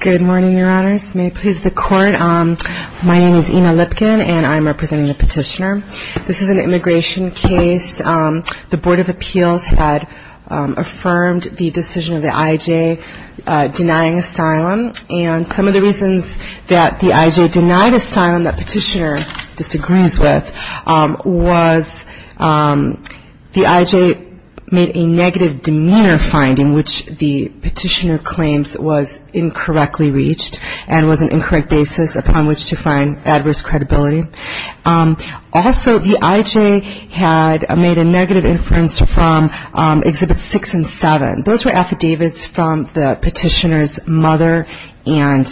Good morning, your honors. May it please the court, my name is Ina Lipkin and I'm representing the petitioner. This is an immigration case. The Board of Appeals had affirmed the decision of the IJ denying asylum and some of the reasons that the IJ denied asylum, that petitioner disagrees with, was the IJ made a negative demeanor finding which the petitioner claims was incorrectly reached and was an incorrect basis upon which to find adverse credibility. Also, the IJ had made a negative inference from Exhibits 6 and 7. Those were affidavits from the petitioner's mother and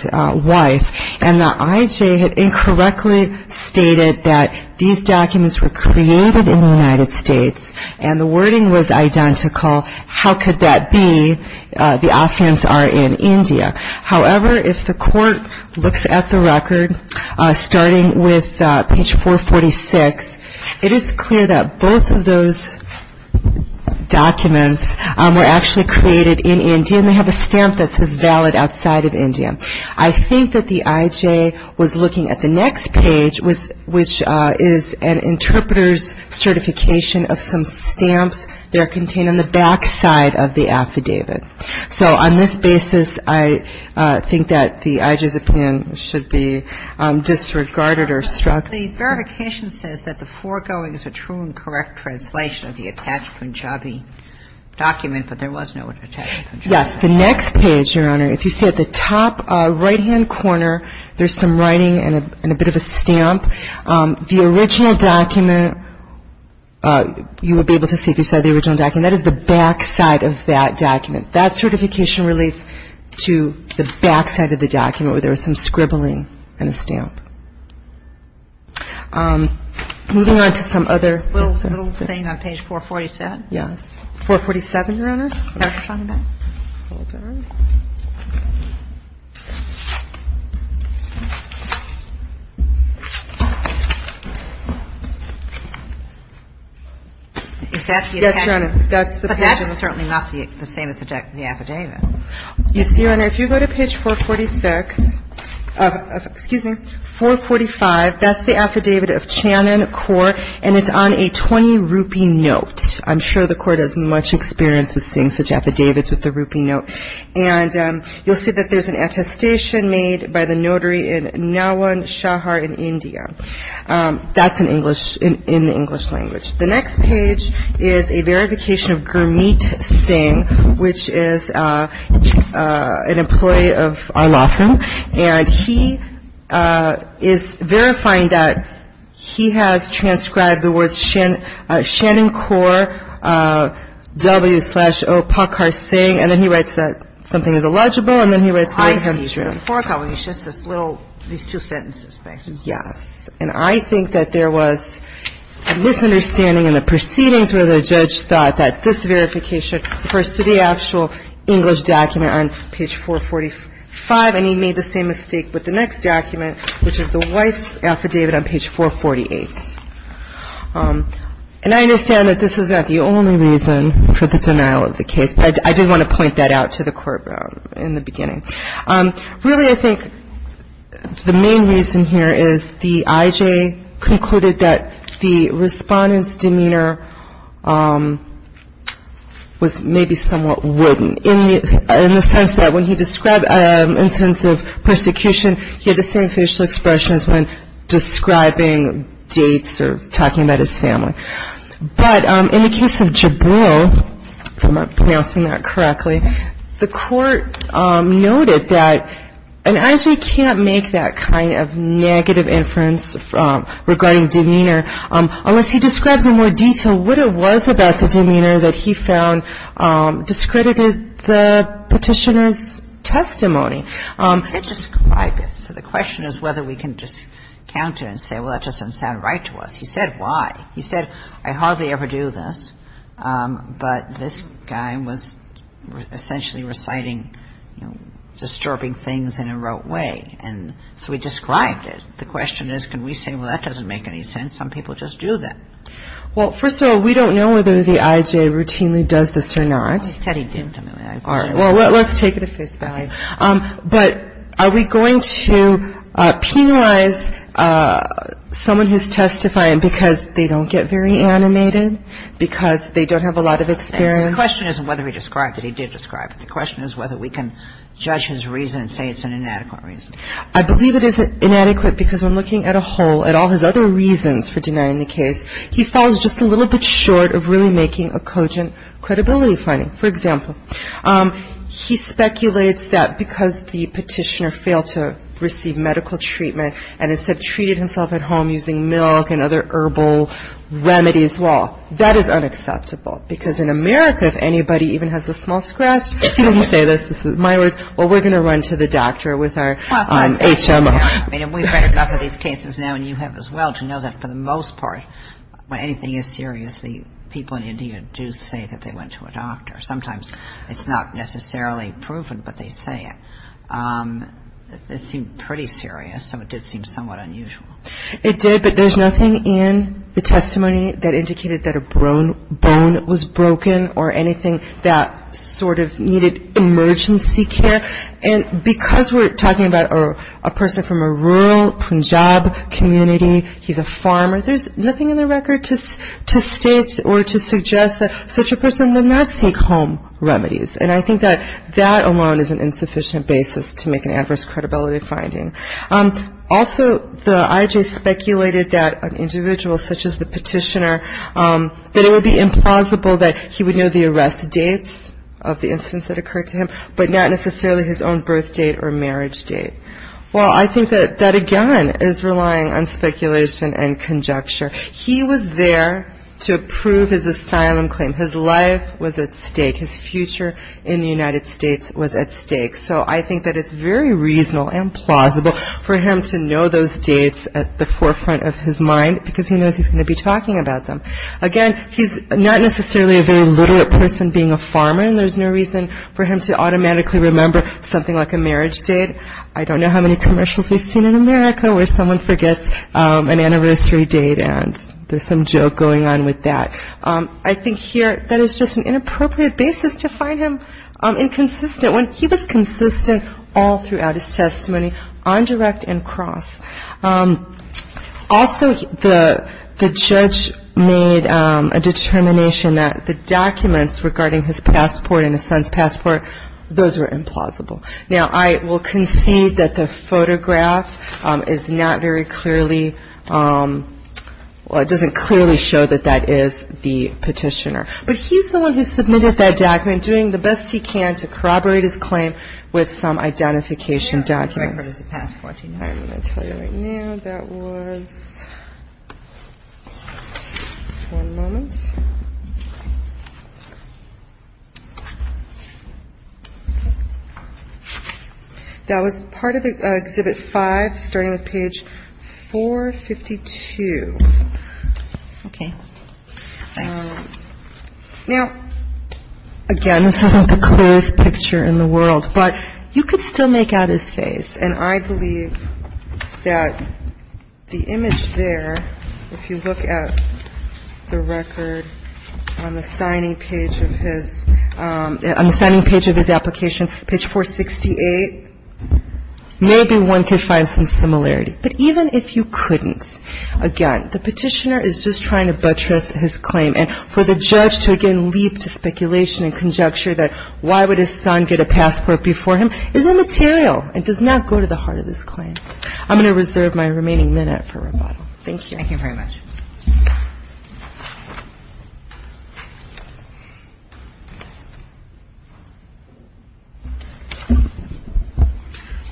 wife, and the IJ had incorrectly stated that these documents were created in the United States and the wording was identical. How could that be? The Afghans are in India. However, if the court looks at the record, starting with page 446, it is clear that both of those documents were actually created in India and they have a stamp that says valid outside of India. I think that the IJ was looking at the next page, which is an interpreter's certification of some stamps that are contained on the back side of the affidavit. So on this basis, I think that the IJ's opinion should be disregarded or struck. The verification says that the foregoing is a true and correct translation of the Attached Punjabi document, but there was no Attached Punjabi. Yes. The next page, Your Honor, if you see at the top right-hand corner, there's some writing and a bit of a stamp. The original document, you will be able to see if you saw the original document, that is the back side of that document. That certification relates to the back side of the document where there was some scribbling and a stamp. Moving on to some other things. A little thing on page 447. Yes. 447, Your Honor. Hold on. Is that the attached? Yes, Your Honor. But that's certainly not the same as the affidavit. You see, Your Honor, if you go to page 446 of – excuse me, 445, that's the affidavit of Channon, and it's on a 20-rupee note. I'm sure the court has much experience with seeing such affidavits with a rupee note. And you'll see that there's an attestation made by the notary in Nawan Shahar in India. That's in English – in the English language. The next page is a verification of Gurmeet Singh, which is an employee of our law firm, and he is verifying that he has transcribed the words Channon Core W slash O Pakhar Singh, and then he writes that something is illegible, and then he writes that it comes true. I see. So the fourth element is just this little – these two sentences, basically. Yes. And I think that there was a misunderstanding in the proceedings where the judge thought that this verification refers to the actual English document on page 445, and he made the same mistake with the next document, which is the wife's affidavit on page 448. And I understand that this is not the only reason for the denial of the case, but I did want to point that out to the court in the beginning. Really, I think the main reason here is the I.J. concluded that the respondent's demeanor was maybe somewhat wooden, in the sense that when he described an instance of persecution, he had the same facial expression as when describing dates or talking about his family. But in the case of Jabril, if I'm pronouncing that correctly, the court noted that an I.J. can't make that kind of negative inference regarding demeanor unless he describes in more detail what it was about the demeanor that he found discredited the Petitioner's testimony. He did describe it. So the question is whether we can discount it and say, well, that just doesn't sound right to us. He said why. He said, I hardly ever do this, but this guy was essentially reciting disturbing things in a rote way. And so he described it. The question is, can we say, well, that doesn't make any sense? Some people just do that. Well, first of all, we don't know whether the I.J. routinely does this or not. Well, he said he did. All right. Well, let's take it at face value. But are we going to penalize someone who's testifying because they don't get very animated, because they don't have a lot of experience? The question isn't whether he described it. He did describe it. The question is whether we can judge his reason and say it's an inadequate reason. I believe it is inadequate because when looking at a whole, at all his other reasons for denying the case, he falls just a little bit short of really making a cogent credibility finding. For example, he speculates that because the petitioner failed to receive medical treatment and instead treated himself at home using milk and other herbal remedies, well, that is unacceptable. Because in America, if anybody even has a small scratch, he doesn't say this. This is my words. Well, we're going to run to the doctor with our HMO. We've read enough of these cases now, and you have as well, to know that for the most part, when anything is serious, the people in India do say that they went to a doctor. Sometimes it's not necessarily proven, but they say it. It seemed pretty serious, so it did seem somewhat unusual. It did, but there's nothing in the testimony that indicated that a bone was broken or anything that sort of needed emergency care. And because we're talking about a person from a rural Punjab community, he's a farmer, there's nothing in the record to state or to suggest that such a person would not seek home remedies. And I think that that alone is an insufficient basis to make an adverse credibility finding. Also, the IJ speculated that an individual such as the petitioner, that it would be implausible that he would know the arrest dates of the incidents that occurred to him, but not necessarily his own birth date or marriage date. Well, I think that that, again, is relying on speculation and conjecture. He was there to approve his asylum claim. His life was at stake. His future in the United States was at stake. So I think that it's very reasonable and plausible for him to know those dates at the forefront of his mind, because he knows he's going to be talking about them. Again, he's not necessarily a very literate person being a farmer, and there's no reason for him to automatically remember something like a marriage date. I don't know how many commercials we've seen in America where someone forgets an anniversary date, and there's some joke going on with that. I think here that is just an inappropriate basis to find him inconsistent, when he was consistent all throughout his testimony on direct and cross. Also, the judge made a determination that the documents regarding his passport and his son's passport, those were implausible. Now, I will concede that the photograph is not very clearly, well, it doesn't clearly show that that is the petitioner. But he's the one who submitted that document, doing the best he can to corroborate his claim with some identification documents. I'm going to tell you right now that was, one moment. That was part of Exhibit 5, starting with page 452. Okay. Now, again, this isn't the clearest picture in the world, but you could still make out his face, and I believe that the image there, if you look at the record on the signing page of his application, page 468, maybe one could find some similarity. But even if you couldn't, again, the petitioner is just trying to buttress his claim. And for the judge to, again, leap to speculation and conjecture that why would his son get a passport before him, is immaterial. It does not go to the heart of this claim. I'm going to reserve my remaining minute for rebuttal. Thank you. Thank you very much.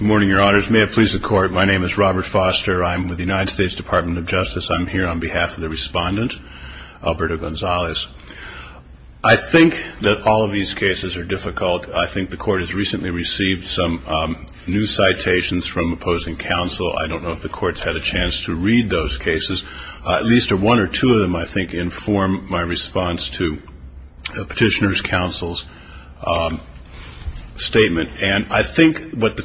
Good morning, Your Honors. May it please the Court, my name is Robert Foster. I'm with the United States Department of Justice. I'm here on behalf of the Respondent, Alberto Gonzalez. I think that all of these cases are difficult. I think the Court has recently received some new citations from opposing counsel. I don't know if the Court's had a chance to read those cases. At least one or two of them, I think, inform my response to the Petitioner's Counsel's statement. And I think what the Court.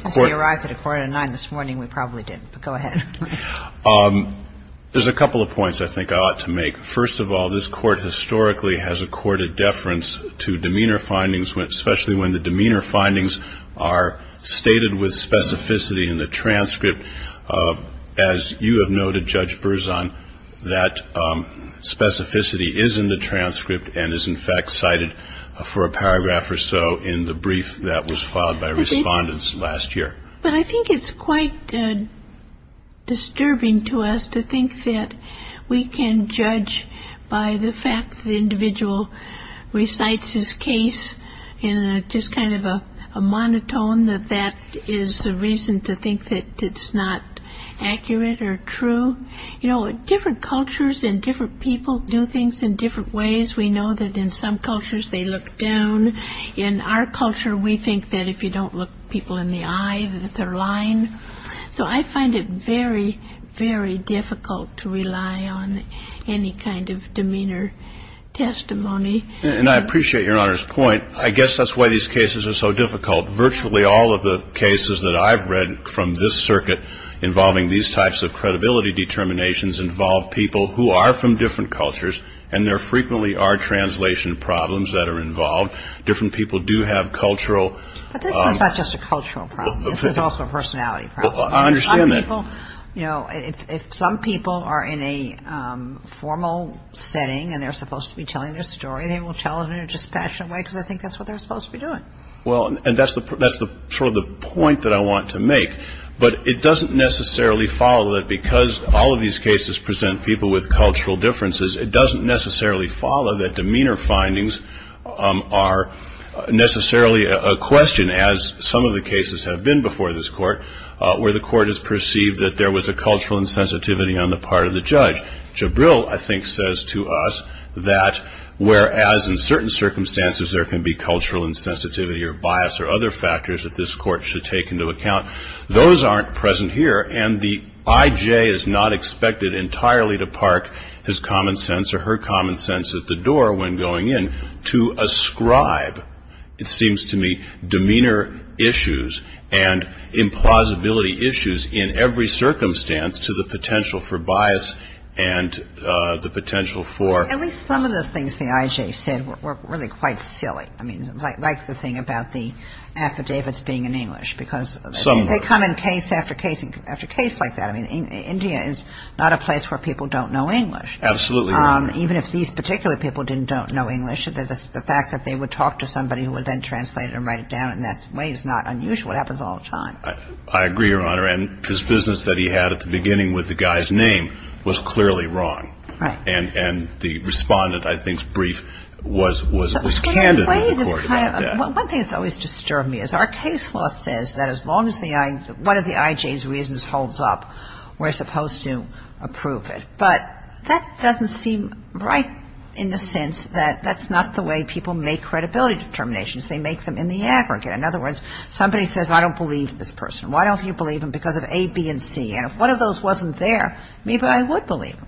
There's a couple of points I think I ought to make. First of all, this Court historically has accorded deference to demeanor findings, especially when the demeanor findings are stated with specificity in the transcript. As you have noted, Judge Berzon, that specificity is in the transcript and is, in fact, cited for a paragraph or so in the brief that was filed by Respondents last year. But I think it's quite disturbing to us to think that we can judge by the fact the individual recites his case in just kind of a monotone, that that is the reason to think that it's not accurate or true. You know, different cultures and different people do things in different ways. We know that in some cultures they look down. In our culture, we think that if you don't look people in the eye, that they're lying. So I find it very, very difficult to rely on any kind of demeanor testimony. And I appreciate Your Honor's point. I guess that's why these cases are so difficult. Virtually all of the cases that I've read from this circuit involving these types of credibility determinations involve people who are from different cultures, and there frequently are translation problems that are involved. Different people do have cultural. But this is not just a cultural problem. This is also a personality problem. I understand that. You know, if some people are in a formal setting and they're supposed to be telling their story, they will tell it in a dispassionate way because they think that's what they're supposed to be doing. Well, and that's sort of the point that I want to make. But it doesn't necessarily follow that because all of these cases present people with cultural differences, it doesn't necessarily follow that demeanor findings are necessarily a question, as some of the cases have been before this Court, where the Court has perceived that there was a cultural insensitivity on the part of the judge. Jabril, I think, says to us that whereas in certain circumstances there can be cultural insensitivity or bias or other factors that this Court should take into account, those aren't present here, and the I.J. is not expected entirely to park his common sense or her common sense at the door when going in to ascribe, it seems to me, demeanor issues and implausibility issues in every circumstance to the potential for bias and the potential for ‑‑ At least some of the things the I.J. said were really quite silly. I mean, like the thing about the affidavits being in English because they come in case after case like that. I mean, India is not a place where people don't know English. Absolutely right. Even if these particular people didn't know English, the fact that they would talk to somebody who would then translate it and write it down in that way is not unusual. It happens all the time. I agree, Your Honor. And his business that he had at the beginning with the guy's name was clearly wrong. Right. And the respondent, I think, brief was candid in the Court about that. One thing that's always disturbed me is our case law says that as long as one of the I.J.'s reasons holds up, we're supposed to approve it. But that doesn't seem right in the sense that that's not the way people make credibility determinations. They make them in the aggregate. In other words, somebody says, I don't believe this person. Why don't you believe him because of A, B, and C? And if one of those wasn't there, maybe I would believe him.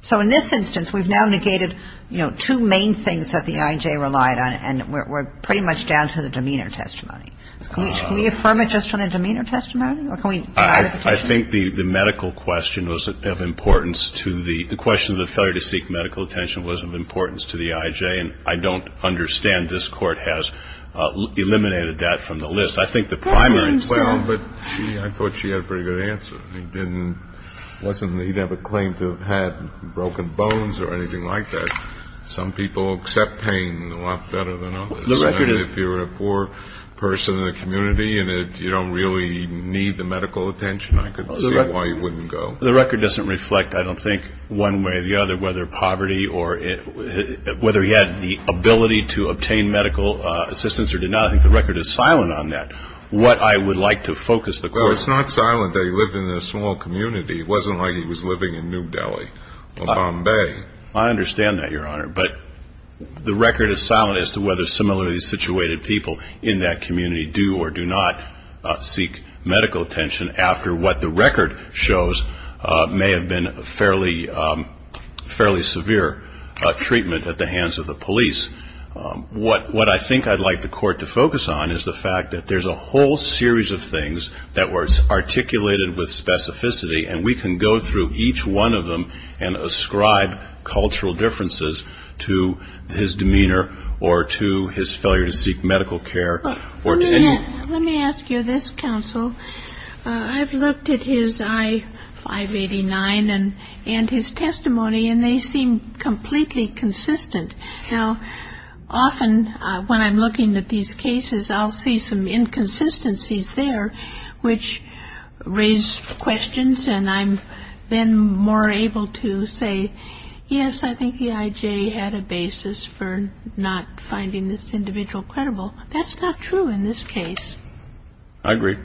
So in this instance, we've now negated, you know, two main things that the I.J. relied on and we're pretty much down to the demeanor testimony. Can we affirm it just on the demeanor testimony? Or can we deny it? I think the medical question was of importance to the question of the failure to seek medical attention was of importance to the I.J. And I don't understand this Court has eliminated that from the list. I think the primary reason. Well, but I thought she had a pretty good answer. It wasn't that he'd have a claim to have had broken bones or anything like that. Some people accept pain a lot better than others. If you're a poor person in the community and you don't really need the medical attention, I could see why you wouldn't go. The record doesn't reflect, I don't think, one way or the other, whether poverty or whether he had the ability to obtain medical assistance or did not. I think the record is silent on that, what I would like to focus the Court on. Well, it's not silent that he lived in a small community. It wasn't like he was living in New Delhi or Bombay. I understand that, Your Honor. But the record is silent as to whether similarly situated people in that community do or do not seek medical attention after what the record shows may have been a fairly severe treatment at the hands of the police. What I think I'd like the Court to focus on is the fact that there's a whole series of things that were articulated with specificity, and we can go through each one of them and ascribe cultural differences to his demeanor or to his failure to seek medical care. Let me ask you this, counsel. I've looked at his I-589 and his testimony, and they seem completely consistent. Now, often when I'm looking at these cases, I'll see some inconsistencies there which raise questions, and I'm then more able to say, yes, I think the I.J. had a basis for not finding this individual credible. That's not true in this case. I agree.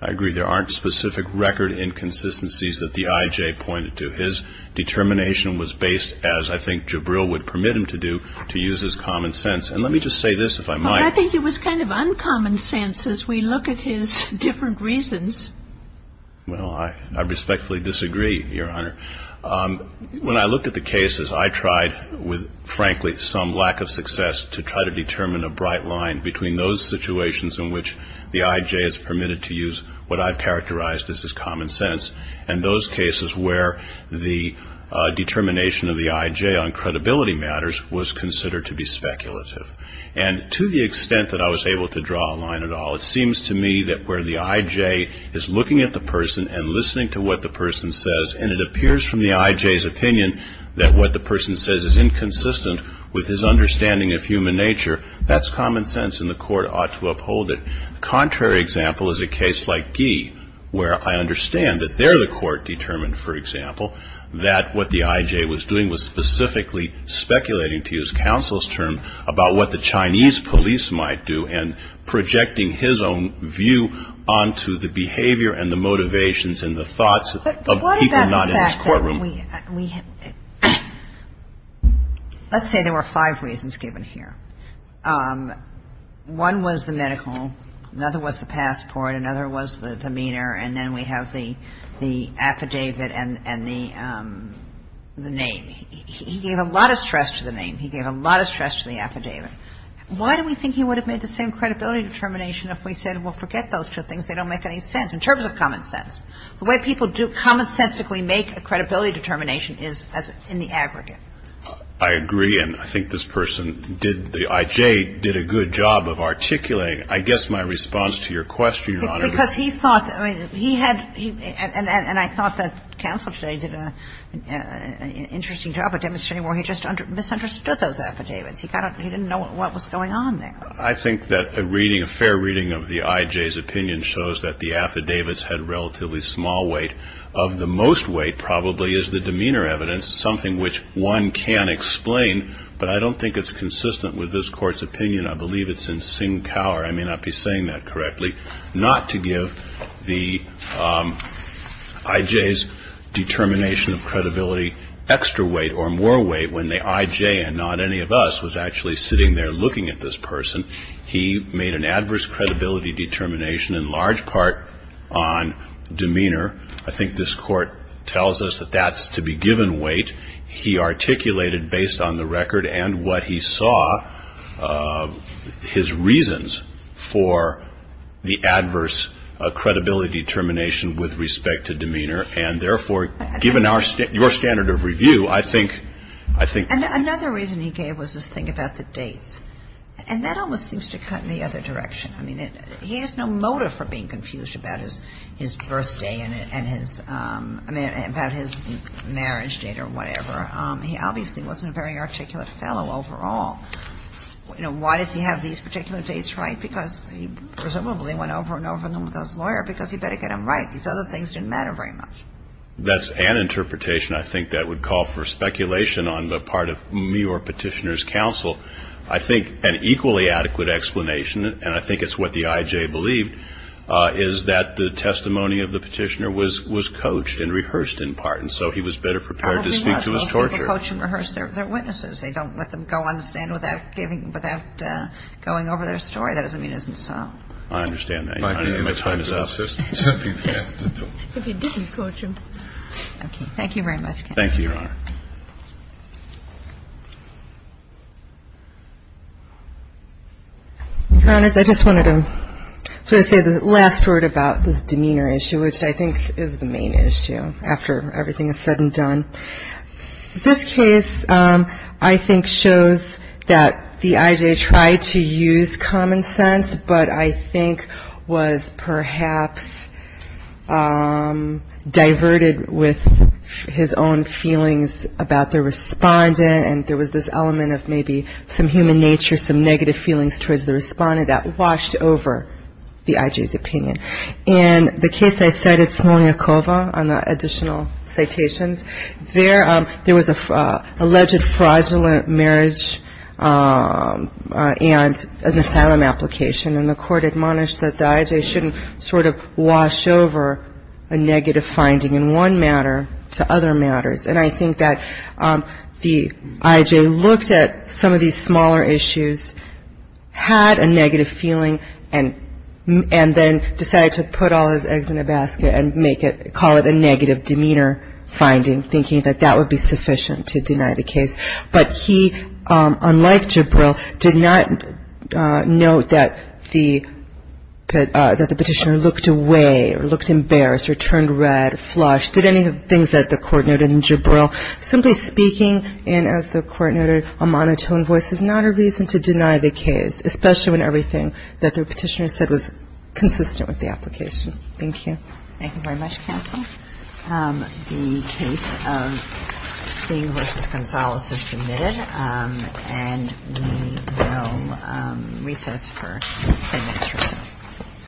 I agree there aren't specific record inconsistencies that the I.J. pointed to. His determination was based, as I think Jabril would permit him to do, to use his common sense. And let me just say this, if I might. I think it was kind of uncommon sense as we look at his different reasons. Well, I respectfully disagree, Your Honor. When I looked at the cases, I tried with, frankly, some lack of success to try to determine a bright line between those situations in which the I.J. has permitted to use what I've characterized as his common sense and those cases where the determination of the I.J. on credibility matters was considered to be speculative. And to the extent that I was able to draw a line at all, it seems to me that where the I.J. is looking at the person and listening to what the person says, and it appears from the I.J.'s opinion that what the person says is inconsistent with his understanding of human nature, that's common sense and the court ought to uphold it. Contrary example is a case like Gee, where I understand that there the court determined, for example, that what the I.J. was doing was specifically speculating, to use counsel's term, about what the Chinese police might do and projecting his own view onto the behavior and the motivations and the thoughts of people not in his courtroom. But what about the fact that we have – let's say there were five reasons given here. One was the medical. Another was the passport. Another was the demeanor. And then we have the affidavit and the name. He gave a lot of stress to the name. He gave a lot of stress to the affidavit. Why do we think he would have made the same credibility determination if we said, well, forget those two things. They don't make any sense in terms of common sense. The way people do commonsensically make a credibility determination is in the aggregate. I agree. And I think this person did – the I.J. did a good job of articulating, I guess, my response to your question, Your Honor. Because he thought – he had – and I thought that counsel today did an interesting job of demonstrating why he just misunderstood those affidavits. He didn't know what was going on there. I think that a reading, a fair reading of the I.J.'s opinion shows that the affidavits had relatively small weight. Of the most weight, probably, is the demeanor evidence, something which one can explain. But I don't think it's consistent with this Court's opinion. I believe it's in Sinkower. I may not be saying that correctly. Not to give the I.J.'s determination of credibility extra weight or more weight when the I.J. and not any of us was actually sitting there looking at this person. He made an adverse credibility determination in large part on demeanor. I think this Court tells us that that's to be given weight. He articulated, based on the record and what he saw, his reasons for the adverse credibility determination with respect to demeanor. And, therefore, given our – your standard of review, I think – I think – And another reason he gave was this thing about the dates. And that almost seems to cut in the other direction. I mean, he has no motive for being confused about his birthday and his – I mean, about his marriage date or whatever. He obviously wasn't a very articulate fellow overall. You know, why does he have these particular dates right? Because he presumably went over and over with his lawyer because he better get them right. These other things didn't matter very much. That's an interpretation, I think, that would call for speculation on the part of me or Petitioner's counsel. I think an equally adequate explanation, and I think it's what the I.J. believed, is that the testimony of the Petitioner was coached and rehearsed in part. And so he was better prepared to speak to his torturer. Well, people coach and rehearse their witnesses. They don't let them go on the stand without giving – without going over their story. That doesn't mean it isn't so. I understand that. My time is up. If he didn't coach him. Okay. Thank you very much, counsel. Thank you, Your Honor. Your Honors, I just wanted to say the last word about the demeanor issue, which I think is the main issue, after everything is said and done. This case, I think, shows that the I.J. tried to use common sense, but I think was perhaps diverted with his own feelings and emotions. There was this element of maybe some human nature, some negative feelings towards the respondent that washed over the I.J.'s opinion. In the case I cited, Smolniakova, on the additional citations, there was an alleged fraudulent marriage and an asylum application, and the court admonished that the I.J. shouldn't sort of wash over a negative finding in one matter to other matters. And I think that the I.J. looked at some of these smaller issues, had a negative feeling, and then decided to put all his eggs in a basket and make it call it a negative demeanor finding, thinking that that would be sufficient to deny the case. But he, unlike Jibril, did not note that the petitioner looked away or looked embarrassed or turned red or flushed. He did any of the things that the court noted in Jibril. Simply speaking, and as the court noted, a monotone voice is not a reason to deny the case, especially when everything that the petitioner said was consistent with the application. Thank you. Thank you very much, counsel. The case of Singh v. Gonzales is submitted, and we will recess for the next recess. Thank you.